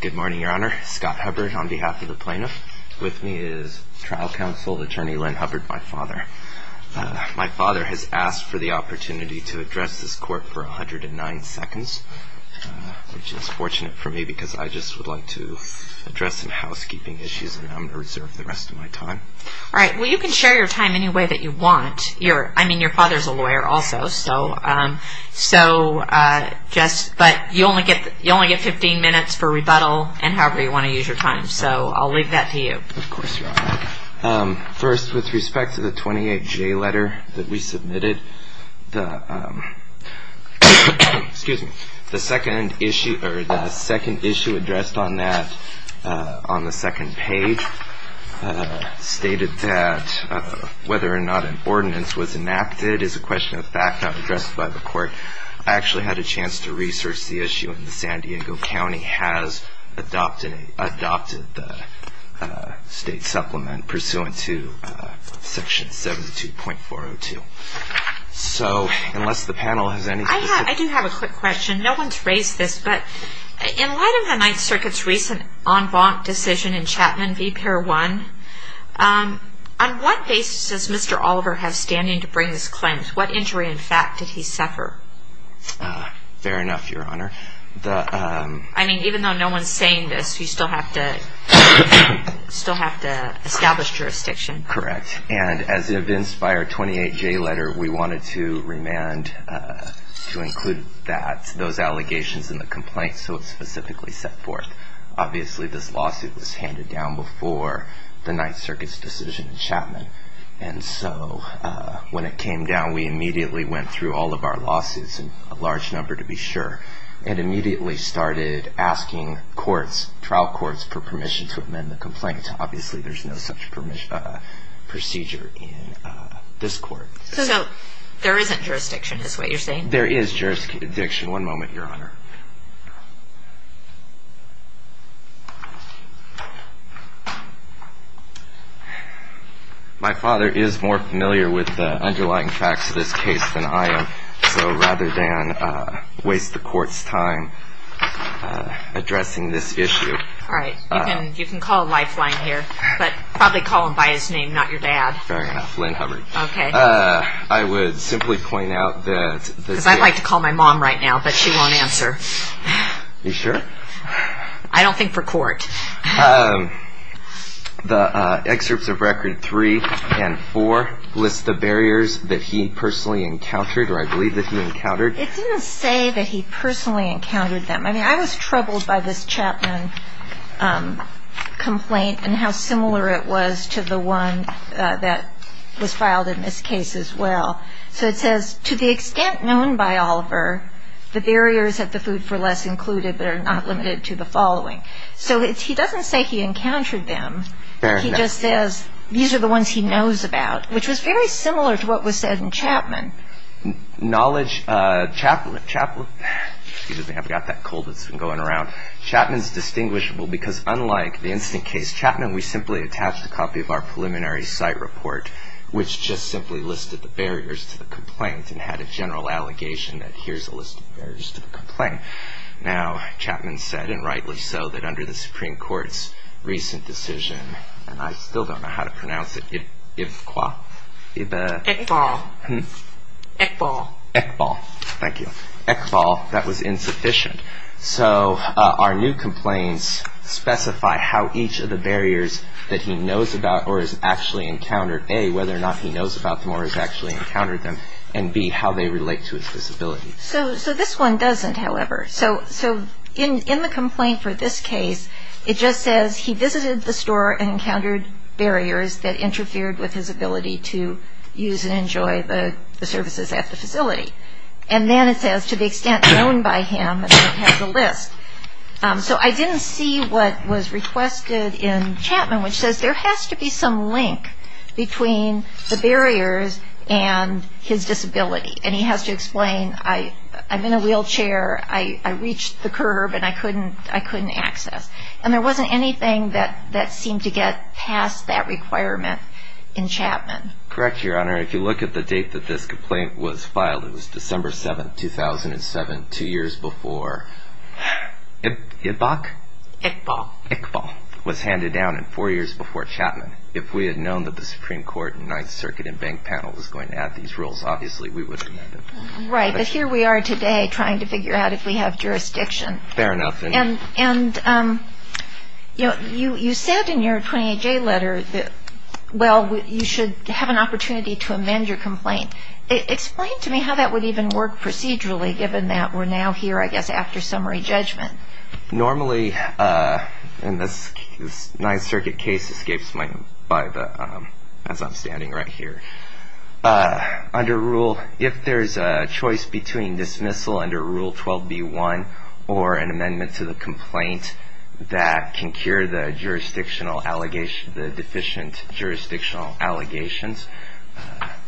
Good morning, Your Honor. Scott Hubbard on behalf of the plaintiff. With me is Trial Counsel, Attorney Lynn Hubbard, my father. My father has asked for the opportunity to address this court for 109 seconds, which is fortunate for me because I just would like to address some housekeeping issues and I'm going to reserve the rest of my time. All right. Well, you can share your time any way that you want. I mean, your father's a lawyer also, but you only get 15 minutes for rebuttal and however you want to use your time, so I'll leave that to you. Of course, Your Honor. First, with respect to the 28J letter that we submitted, the second issue addressed on that, on the second page, stated that whether or not an ordinance was enacted is a question of fact not addressed by the court. I actually had a chance to research the issue and the San Diego County has adopted the state supplement pursuant to section 72.402. So, unless the panel has anything to say. I do have a quick question. No one's raised this, but in light of the Ninth Circuit's recent en banc decision in Chapman v. Pier 1, on what basis does Mr. Oliver have standing to bring this claim? What injury, in fact, did he suffer? Fair enough, Your Honor. I mean, even though no one's saying this, you still have to establish jurisdiction. Correct. And as evinced by our 28J letter, we wanted to remand, to include that, those allegations in the complaint so it's specifically set forth. Obviously, this lawsuit was handed down before the Ninth Circuit's decision in Chapman. And so, when it came down, we immediately went through all of our lawsuits, a large number to be sure, and immediately started asking courts, trial courts, for permission to amend the complaint. Obviously, there's no such procedure in this court. So, there isn't jurisdiction is what you're saying? There is jurisdiction. One moment, Your Honor. My father is more familiar with the underlying facts of this case than I am. So, rather than waste the court's time addressing this issue. All right. You can call a lifeline here, but probably call him by his name, not your dad. Fair enough, Lynn Hubbard. Okay. I would simply point out that this case. Because I'd like to call my mom right now, but she won't answer. You sure? I don't think for court. The excerpts of Record 3 and 4 list the barriers that he personally encountered, or I believe that he encountered. It didn't say that he personally encountered them. I mean, I was troubled by this Chapman complaint and how similar it was to the one that was filed in this case as well. So, it says, to the extent known by Oliver, the barriers at the food for less included, but are not limited to the following. So, he doesn't say he encountered them. Fair enough. He just says, these are the ones he knows about, which was very similar to what was said in Chapman. Knowledge, Chapman, Chapman, excuse me, I've got that cold that's been going around. Chapman's distinguishable because unlike the instant case Chapman, we simply attached a copy of our preliminary site report, which just simply listed the barriers to the complaint and had a general allegation that here's a list of barriers to the complaint. Now, Chapman said, and rightly so, that under the Supreme Court's recent decision, and I still don't know how to pronounce it, Ekbal. Ekbal. Ekbal. Thank you. Ekbal. That was insufficient. So, our new complaints specify how each of the barriers that he knows about or has actually encountered, A, whether or not he knows about them or has actually encountered them, and B, how they relate to his disability. So, this one doesn't, however. So, in the complaint for this case, it just says he visited the store and encountered barriers that interfered with his ability to use and enjoy the services at the facility. And then it says, to the extent known by him, it has a list. So, I didn't see what was requested in Chapman, which says there has to be some link between the barriers and his disability. And he has to explain, I'm in a wheelchair, I reached the curb, and I couldn't access. And there wasn't anything that seemed to get past that requirement in Chapman. Correct, Your Honor. If you look at the date that this complaint was filed, it was December 7, 2007, two years before Ekbal was handed down and four years before Chapman. If we had known that the Supreme Court and Ninth Circuit and bank panel was going to add these rules, obviously we would have done that. Right, but here we are today trying to figure out if we have jurisdiction. Fair enough. And, you know, you said in your 28-J letter that, well, you should have an opportunity to amend your complaint. Explain to me how that would even work procedurally, given that we're now here, I guess, after summary judgment. Normally, and this Ninth Circuit case escapes me as I'm standing right here. Under rule, if there's a choice between dismissal under Rule 12b-1 or an amendment to the complaint that can cure the deficient jurisdictional allegations,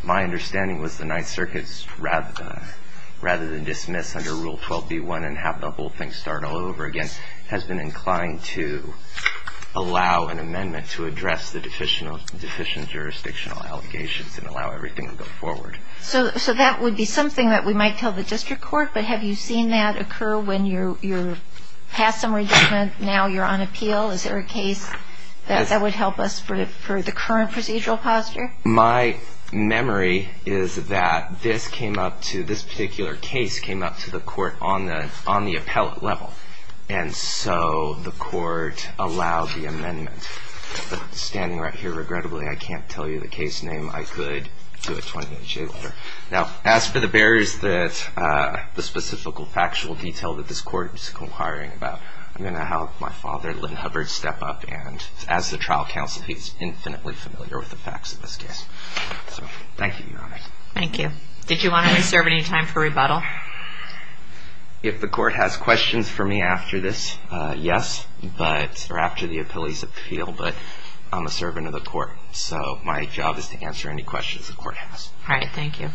my understanding was the Ninth Circuit, rather than dismiss under Rule 12b-1 and have the whole thing start all over again, has been inclined to allow an amendment to address the deficient jurisdictional allegations and allow everything to go forward. So that would be something that we might tell the district court, but have you seen that occur when you're past summary judgment, now you're on appeal? Is there a case that would help us for the current procedural posture? My memory is that this came up to, this particular case came up to the court on the appellate level. And so the court allowed the amendment. But standing right here, regrettably, I can't tell you the case name. I could do a 28-J letter. Now, as for the barriers that the specific factual detail that this court is inquiring about, I'm going to have my father, Lynn Hubbard, step up. And as the trial counsel, he's infinitely familiar with the facts of this case. Thank you, Your Honor. Thank you. Did you want to reserve any time for rebuttal? If the court has questions for me after this, yes, but, or after the appellee's appeal, but I'm a servant of the court. So my job is to answer any questions the court has. All right. Thank you.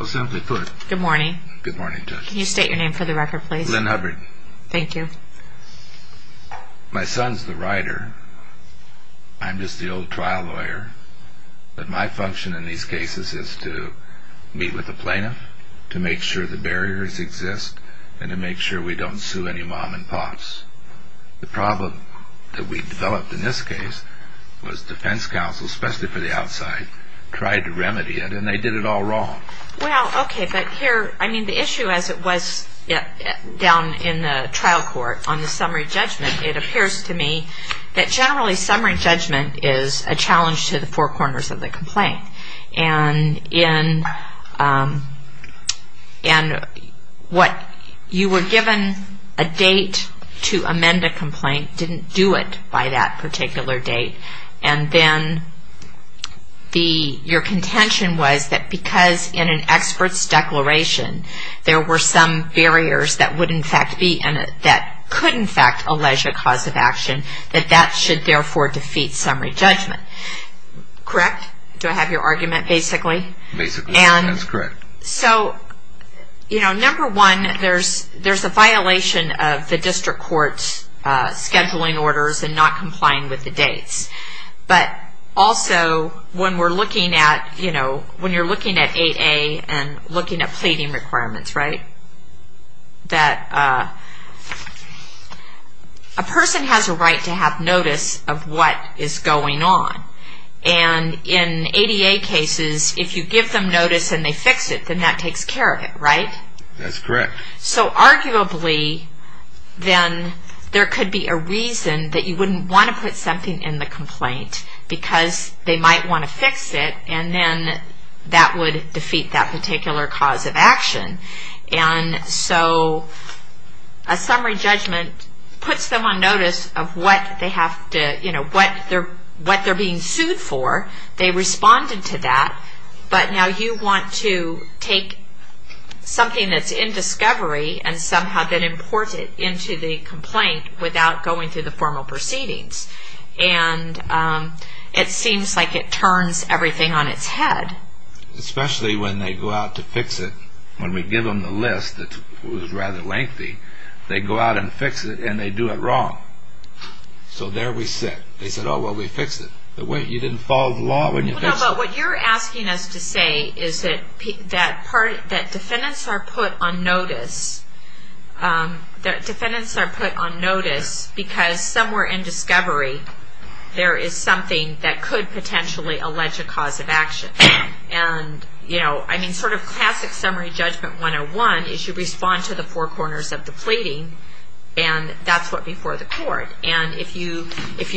Well, simply put. Good morning. Good morning, Judge. Can you state your name for the record, please? Lynn Hubbard. Thank you. My son's the writer. I'm just the old trial lawyer. But my function in these cases is to meet with the plaintiff, to make sure the barriers exist, and to make sure we don't sue any mom-and-pops. The problem that we developed in this case was defense counsel, especially for the outside, tried to remedy it, and they did it all wrong. Well, okay, but here, I mean, the issue as it was down in the trial court on the summary judgment, it appears to me that generally summary judgment is a challenge to the four corners of the complaint. And what you were given a date to amend a complaint didn't do it by that particular date. And then your contention was that because in an expert's declaration there were some barriers that would in fact be and that could in fact allege a cause of action, that that should therefore defeat summary judgment. Correct? Do I have your argument, basically? Basically, that's correct. So, you know, number one, there's a violation of the district court's scheduling orders and not complying with the dates. But also, when we're looking at, you know, when you're looking at 8A and looking at pleading requirements, right, that a person has a right to have notice of what is going on. And in 8A cases, if you give them notice and they fix it, then that takes care of it, right? That's correct. So, arguably, then there could be a reason that you wouldn't want to put something in the complaint because they might want to fix it and then that would defeat that particular cause of action. And so a summary judgment puts them on notice of what they have to, you know, what they're being sued for. They responded to that, but now you want to take something that's in discovery and somehow then import it into the complaint without going through the formal proceedings. And it seems like it turns everything on its head. Especially when they go out to fix it, when we give them the list that was rather lengthy, they go out and fix it and they do it wrong. So there we sit. They said, oh, well, we fixed it. You didn't follow the law when you fixed it. No, but what you're asking us to say is that defendants are put on notice that defendants are put on notice because somewhere in discovery there is something that could potentially allege a cause of action. And, you know, I mean, sort of classic summary judgment 101 is you respond to the four corners of the plating and that's what before the court. And if you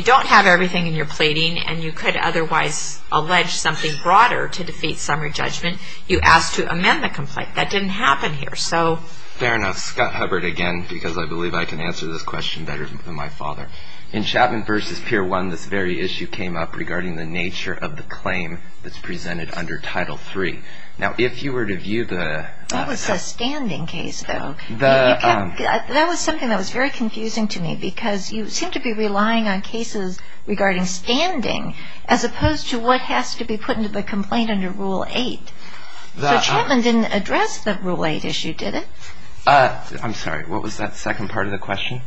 don't have everything in your plating and you could otherwise allege something broader to defeat summary judgment, you ask to amend the complaint. That didn't happen here, so. Fair enough. Scott Hubbard again because I believe I can answer this question better than my father. In Chapman v. Pier 1, this very issue came up regarding the nature of the claim that's presented under Title III. Now, if you were to view the... That was a standing case, though. That was something that was very confusing to me because you seem to be relying on cases regarding standing as opposed to what has to be put into the complaint under Rule 8. So Chapman didn't address the Rule 8 issue, did it? I'm sorry, what was that second part of the question?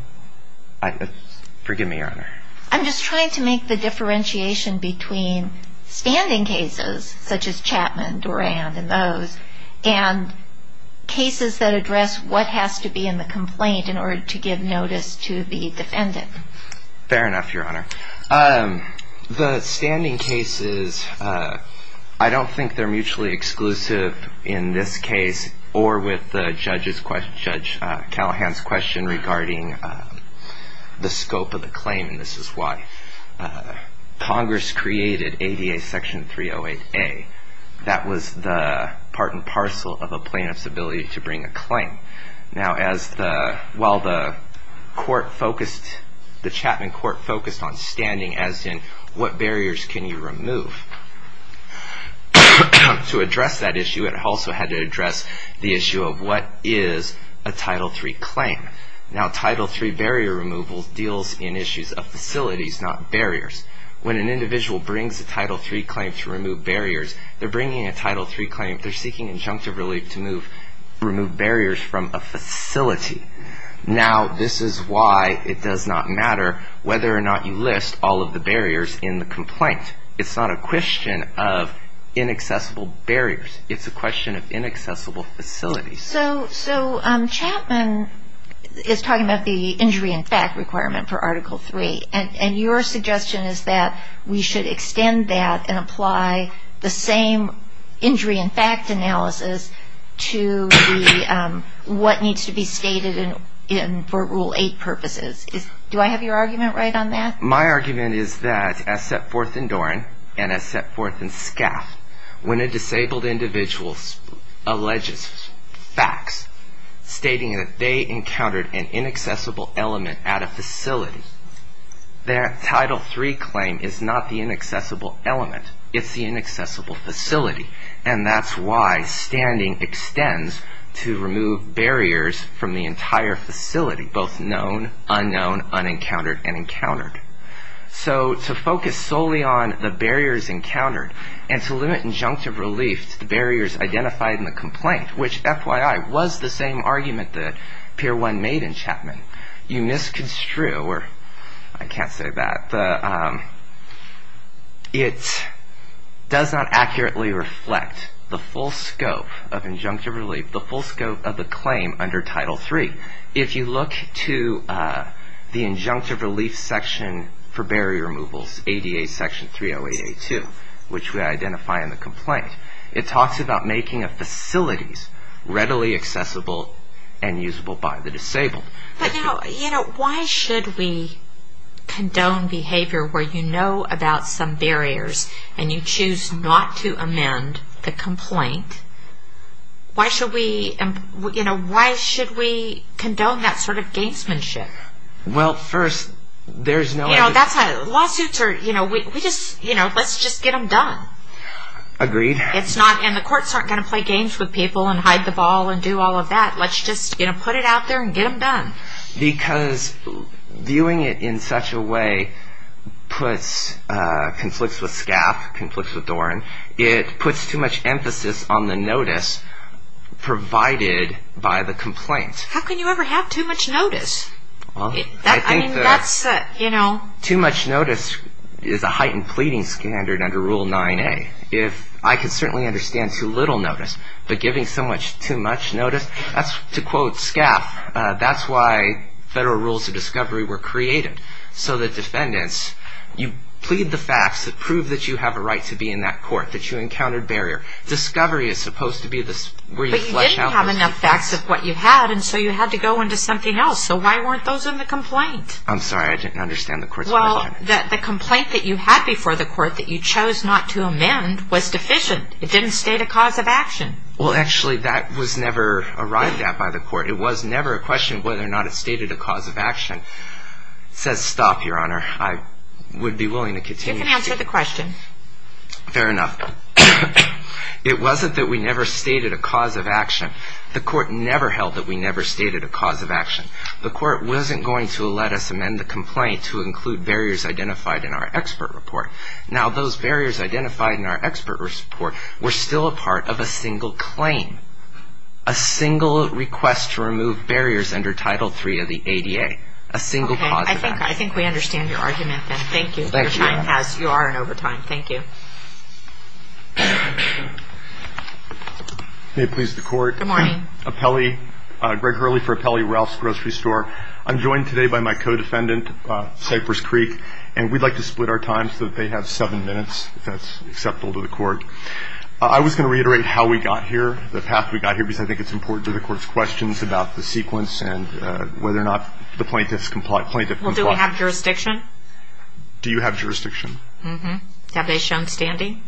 Forgive me, Your Honor. I'm just trying to make the differentiation between standing cases such as Chapman, Doran, and those, and cases that address what has to be in the complaint in order to give notice to the defendant. Fair enough, Your Honor. The standing cases, I don't think they're mutually exclusive in this case or with Judge Callahan's question regarding the scope of the claim, and this is why Congress created ADA Section 308A. That was the part and parcel of a plaintiff's ability to bring a claim. Now, while the Chapman court focused on standing, as in what barriers can you remove, to address that issue it also had to address the issue of what is a Title III claim. Now, Title III barrier removal deals in issues of facilities, not barriers. When an individual brings a Title III claim to remove barriers, they're bringing a Title III claim, they're seeking injunctive relief to remove barriers from a facility. Now, this is why it does not matter whether or not you list all of the barriers in the complaint. It's not a question of inaccessible barriers. It's a question of inaccessible facilities. So Chapman is talking about the injury in fact requirement for Article III, and your suggestion is that we should extend that and apply the same injury in fact analysis to what needs to be stated for Rule 8 purposes. Do I have your argument right on that? My argument is that as set forth in Doran and as set forth in Scaff, when a disabled individual alleges facts stating that they encountered an inaccessible element at a facility, their Title III claim is not the inaccessible element. It's the inaccessible facility, and that's why standing extends to remove barriers from the entire facility, both known, unknown, unencountered, and encountered. So to focus solely on the barriers encountered and to limit injunctive relief to the barriers identified in the complaint, which FYI was the same argument that Pier 1 made in Chapman, you misconstrue, or I can't say that, it does not accurately reflect the full scope of injunctive relief, the full scope of the claim under Title III. If you look to the injunctive relief section for barrier removals, ADA Section 308A2, which we identify in the complaint, it talks about making facilities readily accessible and usable by the disabled. But now, you know, why should we condone behavior where you know about some barriers and you choose not to amend the complaint? Why should we, you know, why should we condone that sort of gangsmanship? Well, first, there's no... You know, that's how lawsuits are, you know, we just, you know, let's just get them done. Agreed. It's not, and the courts aren't going to play games with people and hide the ball and do all of that. Let's just, you know, put it out there and get them done. Because viewing it in such a way puts, conflicts with SCAP, conflicts with Doran, it puts too much emphasis on the notice provided by the complaint. How can you ever have too much notice? Well, I think that... I mean, that's, you know... Too much notice is a heightened pleading standard under Rule 9A. If I could certainly understand too little notice, but giving so much, too much notice, that's to quote SCAP, that's why federal rules of discovery were created. So that defendants, you plead the facts that prove that you have a right to be in that court, that you encountered barrier. Discovery is supposed to be where you flesh out... But you didn't have enough facts of what you had, and so you had to go into something else. So why weren't those in the complaint? I'm sorry, I didn't understand the court's... Well, the complaint that you had before the court that you chose not to amend was deficient. It didn't state a cause of action. Well, actually, that was never arrived at by the court. It was never a question of whether or not it stated a cause of action. It says stop, Your Honor. I would be willing to continue... You can answer the question. Fair enough. It wasn't that we never stated a cause of action. The court never held that we never stated a cause of action. The court wasn't going to let us amend the complaint to include barriers identified in our expert report. Now, those barriers identified in our expert report were still a part of a single claim, a single request to remove barriers under Title III of the ADA, a single cause of action. Okay. I think we understand your argument, then. Thank you. Your time has... You are in overtime. Thank you. May it please the Court. Good morning. I'm Greg Hurley for Apelli Ralph's Grocery Store. I'm joined today by my co-defendant, Cypress Creek, and we'd like to split our time so that they have seven minutes if that's acceptable to the Court. I was going to reiterate how we got here, the path we got here, because I think it's important to the Court's questions about the sequence and whether or not the plaintiff complied. Well, do we have jurisdiction? Do you have jurisdiction? Mm-hmm. Have they shown standing?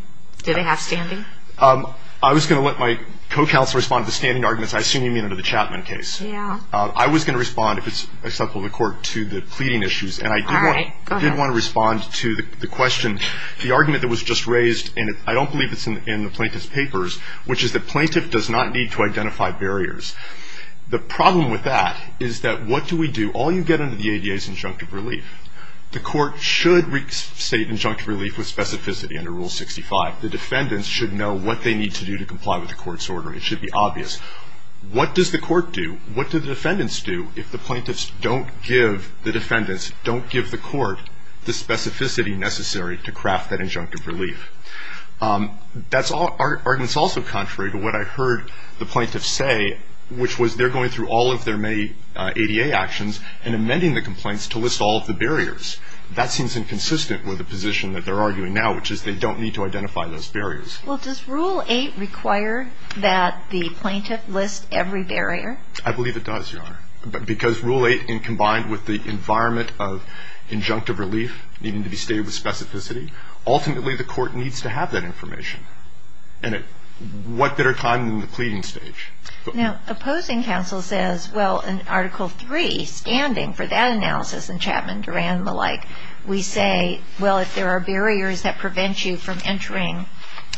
Do they have standing? I was going to let my co-counsel respond to the standing arguments. I assume you mean under the Chapman case. Yeah. I was going to respond, if it's acceptable to the Court, to the pleading issues. All right. Go ahead. And I did want to respond to the question, the argument that was just raised, and I don't believe it's in the plaintiff's papers, which is the plaintiff does not need to identify barriers. The problem with that is that what do we do? All you get under the ADA is injunctive relief. The Court should restate injunctive relief with specificity under Rule 65. The defendants should know what they need to do to comply with the Court's order, and it should be obvious. What does the Court do? What do the defendants do if the plaintiffs don't give the defendants, don't give the Court the specificity necessary to craft that injunctive relief? That argument is also contrary to what I heard the plaintiffs say, which was they're going through all of their ADA actions and amending the complaints to list all of the barriers. That seems inconsistent with the position that they're arguing now, which is they don't need to identify those barriers. Well, does Rule 8 require that the plaintiff list every barrier? I believe it does, Your Honor, because Rule 8 combined with the environment of injunctive relief needing to be stated with specificity, ultimately the Court needs to have that information. And what better time than the pleading stage? Now, opposing counsel says, well, in Article 3, standing for that analysis in Chapman, Duran, and the like, we say, well, if there are barriers that prevent you from entering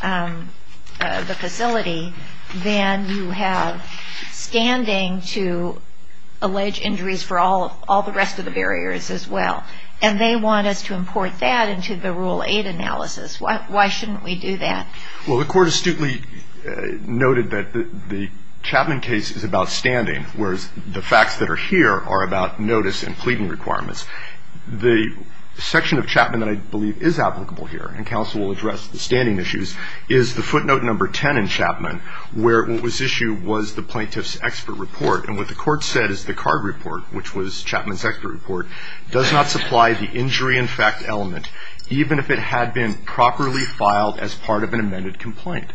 the facility, then you have standing to allege injuries for all the rest of the barriers as well. And they want us to import that into the Rule 8 analysis. Why shouldn't we do that? Well, the Court astutely noted that the Chapman case is about standing, whereas the facts that are here are about notice and pleading requirements. The section of Chapman that I believe is applicable here, and counsel will address the standing issues, is the footnote number 10 in Chapman, where what was issued was the plaintiff's expert report. And what the Court said is the card report, which was Chapman's expert report, does not supply the injury in fact element, even if it had been properly filed as part of an amended complaint.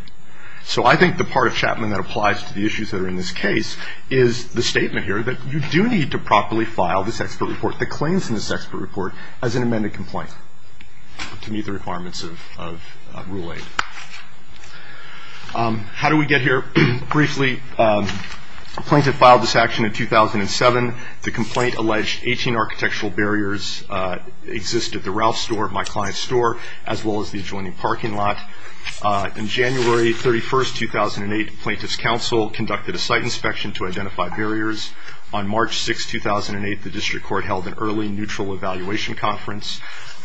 So I think the part of Chapman that applies to the issues that are in this case is the statement here that you do need to properly file this expert report that claims in this expert report as an amended complaint to meet the requirements of Rule 8. How did we get here? Briefly, a plaintiff filed this action in 2007. The complaint alleged 18 architectural barriers exist at the Ralph's store, my client's store, as well as the adjoining parking lot. In January 31, 2008, plaintiff's counsel conducted a site inspection to identify barriers. On March 6, 2008, the District Court held an early neutral evaluation conference.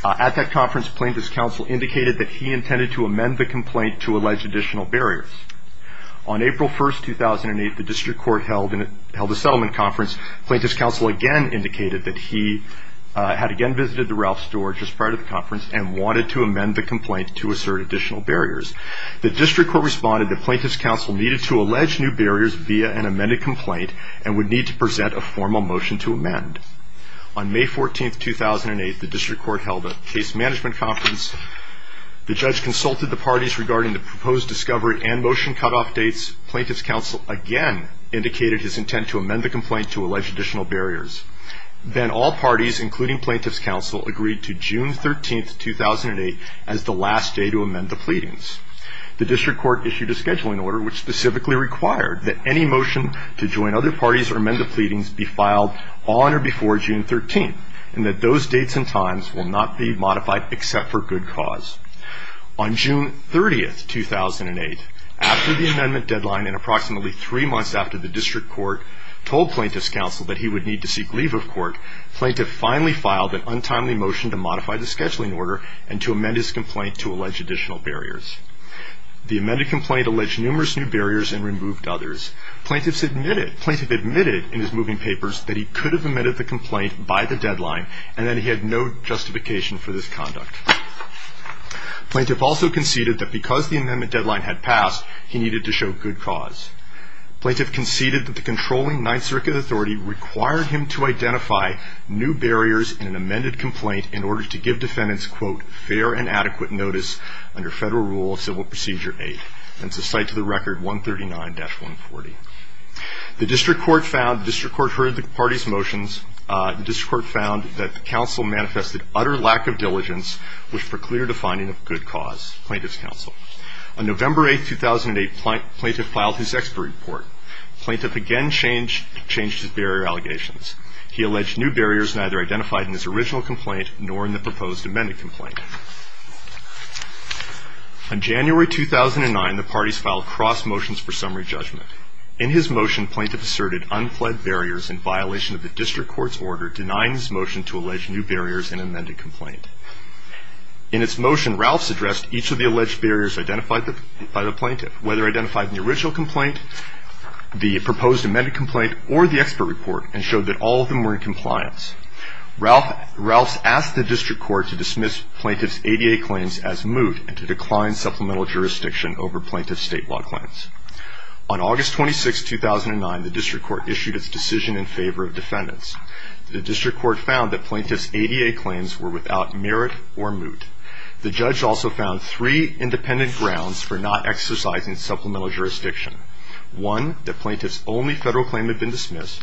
At that conference, plaintiff's counsel indicated that he intended to amend the complaint to allege additional barriers. On April 1, 2008, the District Court held a settlement conference. Plaintiff's counsel again indicated that he had again visited the Ralph's store just prior to the conference and wanted to amend the complaint to assert additional barriers. The District Court responded that plaintiff's counsel needed to allege new barriers via an amended complaint and would need to present a formal motion to amend. On May 14, 2008, the District Court held a case management conference. The judge consulted the parties regarding the proposed discovery and motion cutoff dates. Plaintiff's counsel again indicated his intent to amend the complaint to allege additional barriers. Then all parties, including plaintiff's counsel, agreed to June 13, 2008 as the last day to amend the pleadings. The District Court issued a scheduling order which specifically required that any motion to join other parties or amend the pleadings be filed on or before June 13, and that those dates and times will not be modified except for good cause. On June 30, 2008, after the amendment deadline and approximately three months after the District Court told plaintiff's counsel that he would need to seek leave of court, plaintiff finally filed an untimely motion to modify the scheduling order and to amend his complaint to allege additional barriers. The amended complaint alleged numerous new barriers and removed others. Plaintiff admitted in his moving papers that he could have amended the complaint by the deadline and that he had no justification for this conduct. Plaintiff also conceded that because the amendment deadline had passed, he needed to show good cause. Plaintiff conceded that the controlling Ninth Circuit authority required him to identify new barriers in an amended complaint in order to give defendants, quote, fair and adequate notice under federal rule of civil procedure 8. That's a cite to the record 139-140. The District Court heard the party's motions. The District Court found that the counsel manifested utter lack of diligence, which precluded a finding of good cause, plaintiff's counsel. On November 8, 2008, plaintiff filed his expert report. Plaintiff again changed his barrier allegations. He alleged new barriers neither identified in his original complaint nor in the proposed amended complaint. On January 2009, the parties filed cross motions for summary judgment. In his motion, plaintiff asserted unfled barriers in violation of the District Court's order denying his motion to allege new barriers in an amended complaint. In its motion, Ralphs addressed each of the alleged barriers identified by the plaintiff, whether identified in the original complaint, the proposed amended complaint, or the expert report and showed that all of them were in compliance. Ralphs asked the District Court to dismiss plaintiff's ADA claims as moot and to decline supplemental jurisdiction over plaintiff's state law claims. On August 26, 2009, the District Court issued its decision in favor of defendants. The District Court found that plaintiff's ADA claims were without merit or moot. The judge also found three independent grounds for not exercising supplemental jurisdiction. One, that plaintiff's only federal claim had been dismissed.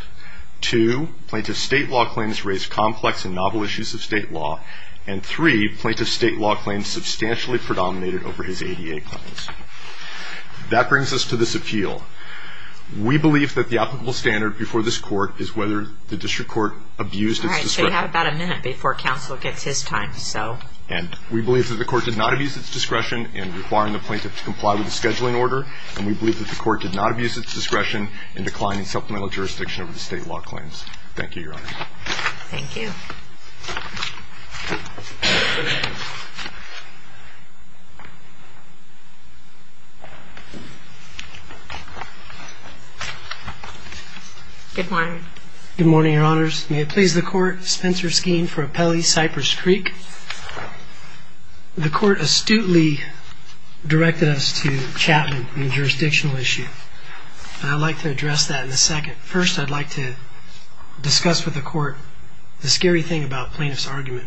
Two, plaintiff's state law claims raised complex and novel issues of state law. And three, plaintiff's state law claims substantially predominated over his ADA claims. That brings us to this appeal. We believe that the applicable standard before this court is whether the District Court abused its discretion. All right, so you have about a minute before counsel gets his time. And we believe that the court did not abuse its discretion in requiring the plaintiff to comply with the scheduling order and we believe that the court did not abuse its discretion in declining supplemental jurisdiction over the state law claims. Thank you, Your Honor. Thank you. Good morning. Good morning, Your Honors. May it please the court, Spencer Skeen for Appellee, Cypress Creek. The court astutely directed us to Chapman in a jurisdictional issue. And I'd like to address that in a second. First, I'd like to discuss with the court the scary thing about plaintiff's argument.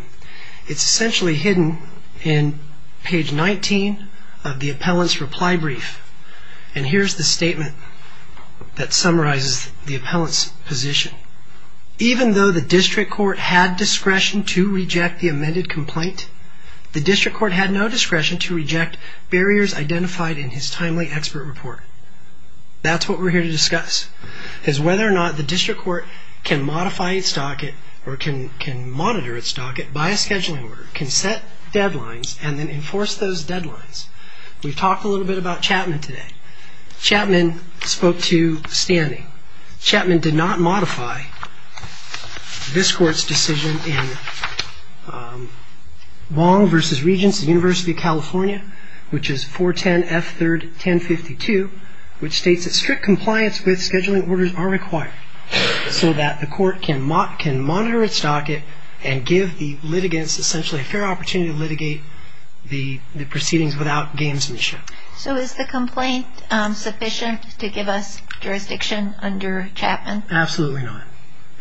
It's essentially hidden in page 19 of the appellant's reply brief. And here's the statement that summarizes the appellant's position. Even though the District Court had discretion to reject the amended complaint, the District Court had no discretion to reject barriers identified in his timely expert report. That's what we're here to discuss, is whether or not the District Court can modify its docket or can monitor its docket by a scheduling order, can set deadlines, and then enforce those deadlines. We've talked a little bit about Chapman today. Chapman spoke to standing. Chapman did not modify this court's decision in Wong v. Regents of the University of California, which is 410F3-1052, which states that strict compliance with scheduling orders are required so that the court can monitor its docket and give the litigants essentially a fair opportunity to litigate the proceedings without gamesmanship. So is the complaint sufficient to give us jurisdiction under Chapman? Absolutely not.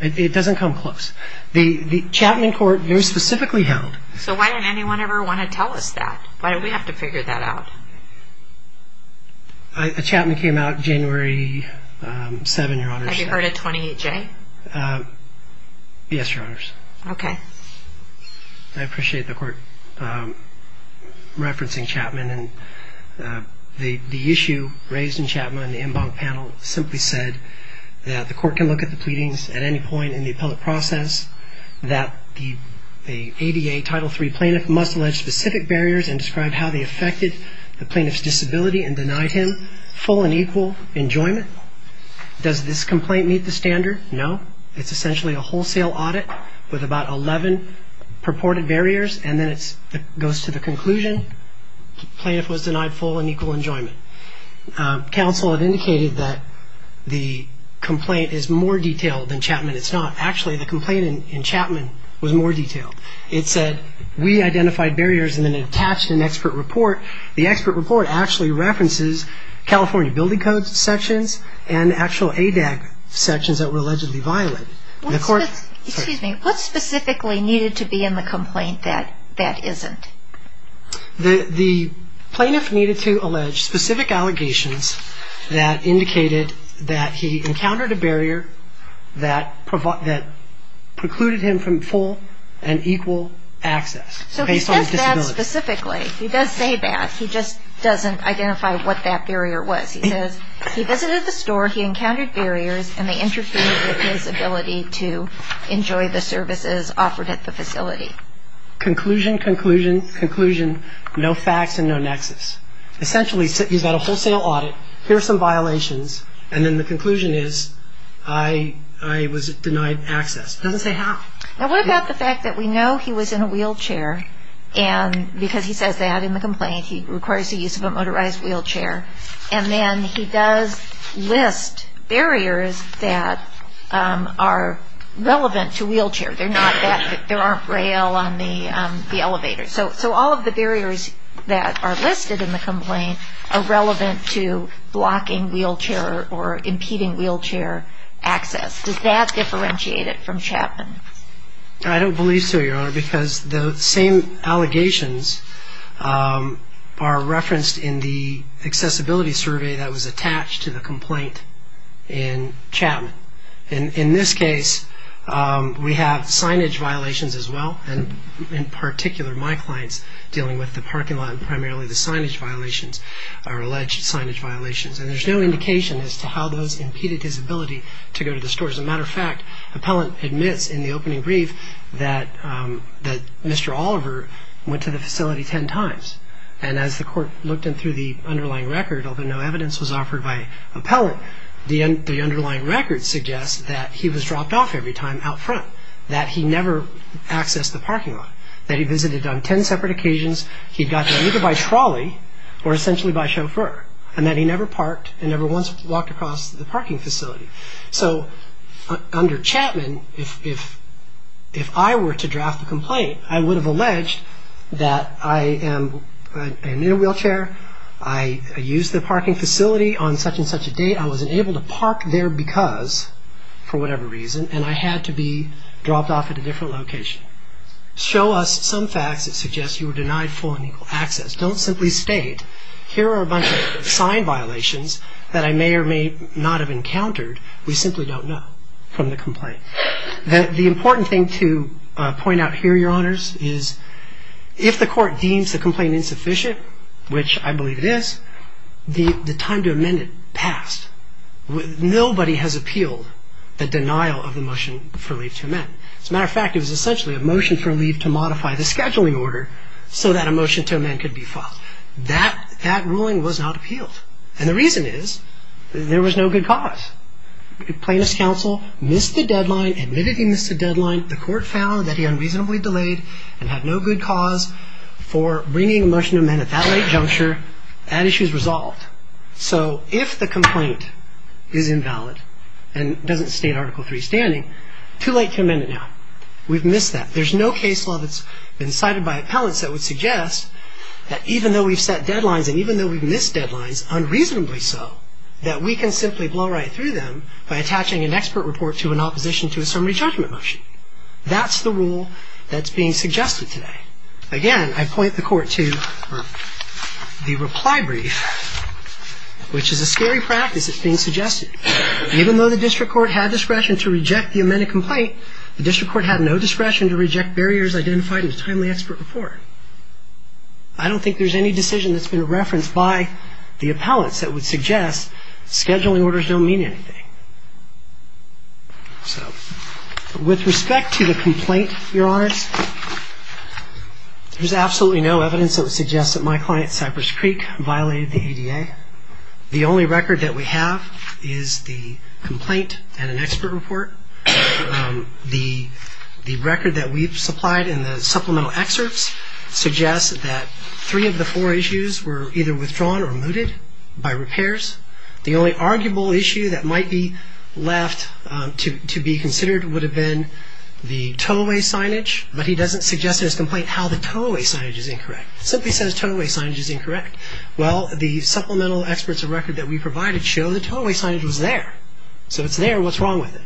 It doesn't come close. The Chapman court very specifically held. So why didn't anyone ever want to tell us that? Why did we have to figure that out? The Chapman came out January 7, Your Honors. Have you heard of 28J? Yes, Your Honors. Okay. I appreciate the court referencing Chapman, and the issue raised in Chapman in the en banc panel simply said that the court can look at the pleadings at any point in the appellate process, that the ADA Title III plaintiff must allege specific barriers and describe how they affected the plaintiff's disability and denied him full and equal enjoyment. Does this complaint meet the standard? No. It's essentially a wholesale audit with about 11 purported barriers, and then it goes to the conclusion the plaintiff was denied full and equal enjoyment. Counsel had indicated that the complaint is more detailed than Chapman. It's not. Actually, the complaint in Chapman was more detailed. It said we identified barriers and then attached an expert report. The expert report actually references California Building Code sections and actual ADAG sections that were allegedly violated. Excuse me. What specifically needed to be in the complaint that isn't? The plaintiff needed to allege specific allegations that indicated that he encountered a barrier that precluded him from full and equal access based on his disability. So he says that specifically. He does say that. He just doesn't identify what that barrier was. He says he visited the store, he encountered barriers, and they interfered with his ability to enjoy the services offered at the facility. Conclusion, conclusion, conclusion, no facts and no nexus. Essentially, he's got a wholesale audit, here are some violations, and then the conclusion is I was denied access. It doesn't say how. Now, what about the fact that we know he was in a wheelchair, and because he says that in the complaint, he requires the use of a motorized wheelchair, and then he does list barriers that are relevant to wheelchair. There aren't rail on the elevator. So all of the barriers that are listed in the complaint are relevant to blocking wheelchair or impeding wheelchair access. Does that differentiate it from Chapman? I don't believe so, Your Honor, because the same allegations are referenced in the accessibility survey that was attached to the complaint in Chapman. In this case, we have signage violations as well, and in particular my clients dealing with the parking lot and primarily the signage violations or alleged signage violations, and there's no indication as to how those impeded his ability to go to the store. As a matter of fact, appellant admits in the opening brief that Mr. Oliver went to the facility ten times, and as the court looked in through the underlying record, although no evidence was offered by appellant, the underlying record suggests that he was dropped off every time out front, that he never accessed the parking lot, that he visited on ten separate occasions, he got there either by trolley or essentially by chauffeur, and that he never parked and never once walked across the parking facility. So under Chapman, if I were to draft a complaint, I would have alleged that I am in a wheelchair, I used the parking facility on such and such a date, I wasn't able to park there because, for whatever reason, and I had to be dropped off at a different location. Show us some facts that suggest you were denied full and equal access. Don't simply state, here are a bunch of sign violations that I may or may not have encountered. We simply don't know from the complaint. The important thing to point out here, Your Honors, is if the court deems the complaint insufficient, which I believe it is, the time to amend it passed. Nobody has appealed the denial of the motion for leave to amend. As a matter of fact, it was essentially a motion for leave to modify the scheduling order so that a motion to amend could be filed. That ruling was not appealed. And the reason is there was no good cause. Plaintiff's counsel missed the deadline, admitted he missed the deadline. The court found that he unreasonably delayed and had no good cause for bringing a motion to amend at that late juncture. That issue is resolved. So if the complaint is invalid and doesn't state Article III standing, too late to amend it now. We've missed that. There's no case law that's been cited by appellants that would suggest that even though we've set deadlines and even though we've missed deadlines, it's unreasonably so that we can simply blow right through them by attaching an expert report to an opposition to a summary judgment motion. That's the rule that's being suggested today. Again, I point the court to the reply brief, which is a scary practice that's being suggested. Even though the district court had discretion to reject the amended complaint, the district court had no discretion to reject barriers identified in the timely expert report. I don't think there's any decision that's been referenced by the appellants that would suggest scheduling orders don't mean anything. With respect to the complaint, Your Honors, there's absolutely no evidence that would suggest that my client, Cypress Creek, violated the ADA. The only record that we have is the complaint and an expert report. The record that we've supplied in the supplemental excerpts suggests that three of the four issues were either withdrawn or mooted by repairs. The only arguable issue that might be left to be considered would have been the tow-away signage, but he doesn't suggest in his complaint how the tow-away signage is incorrect. It simply says tow-away signage is incorrect. Well, the supplemental experts of record that we provided show the tow-away signage was there. So it's there. What's wrong with it?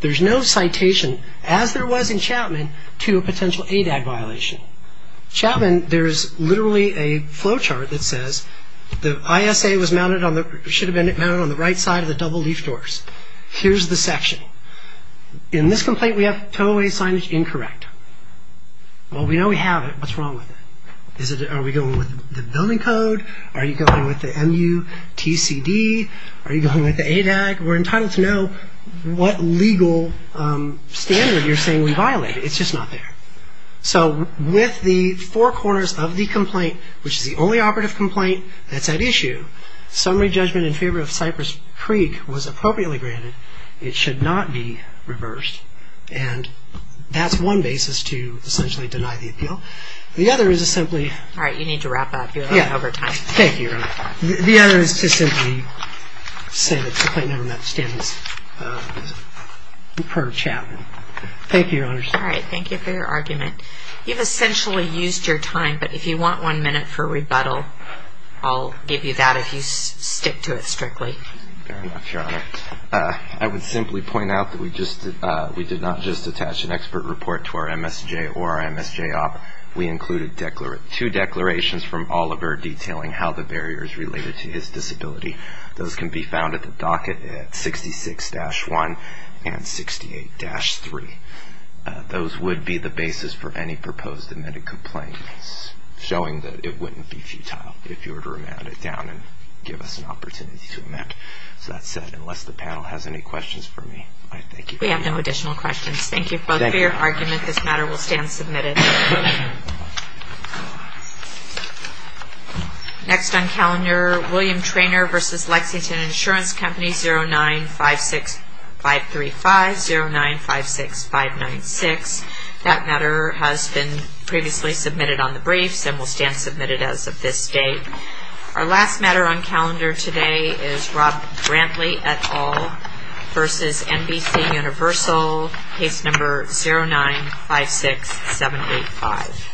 There's no citation, as there was in Chapman, to a potential ADAG violation. Chapman, there's literally a flowchart that says the ISA should have been mounted on the right side of the double-leaf doors. Here's the section. In this complaint, we have tow-away signage incorrect. Well, we know we have it. What's wrong with it? Are we going with the building code? Are you going with the MUTCD? Are you going with the ADAG? We're entitled to know what legal standard you're saying we violated. It's just not there. So with the four corners of the complaint, which is the only operative complaint that's at issue, summary judgment in favor of Cypress Creek was appropriately granted. It should not be reversed. And that's one basis to essentially deny the appeal. The other is to simply... All right, you need to wrap up. You're over time. Thank you. Thank you, Your Honor. The other is to simply say the complaint never met standards. Thank you, Your Honor. All right, thank you for your argument. You've essentially used your time, but if you want one minute for rebuttal, I'll give you that if you stick to it strictly. Fair enough, Your Honor. I would simply point out that we did not just attach an expert report to our MSJ or our MSJ op. We included two declarations from Oliver detailing how the barriers related to his disability. Those can be found at the docket at 66-1 and 68-3. Those would be the basis for any proposed admitted complaint, showing that it wouldn't be futile if you were to remand it down and give us an opportunity to amend. So that said, unless the panel has any questions for me, I thank you. We have no additional questions. Thank you both for your argument. This matter will stand submitted. Next on calendar, William Treanor v. Lexington Insurance Company 09-56535, 09-56596. That matter has been previously submitted on the briefs and will stand submitted as of this date. Our last matter on calendar today is Rob Brantley et al. v. NBC Universal, case number 09-56785.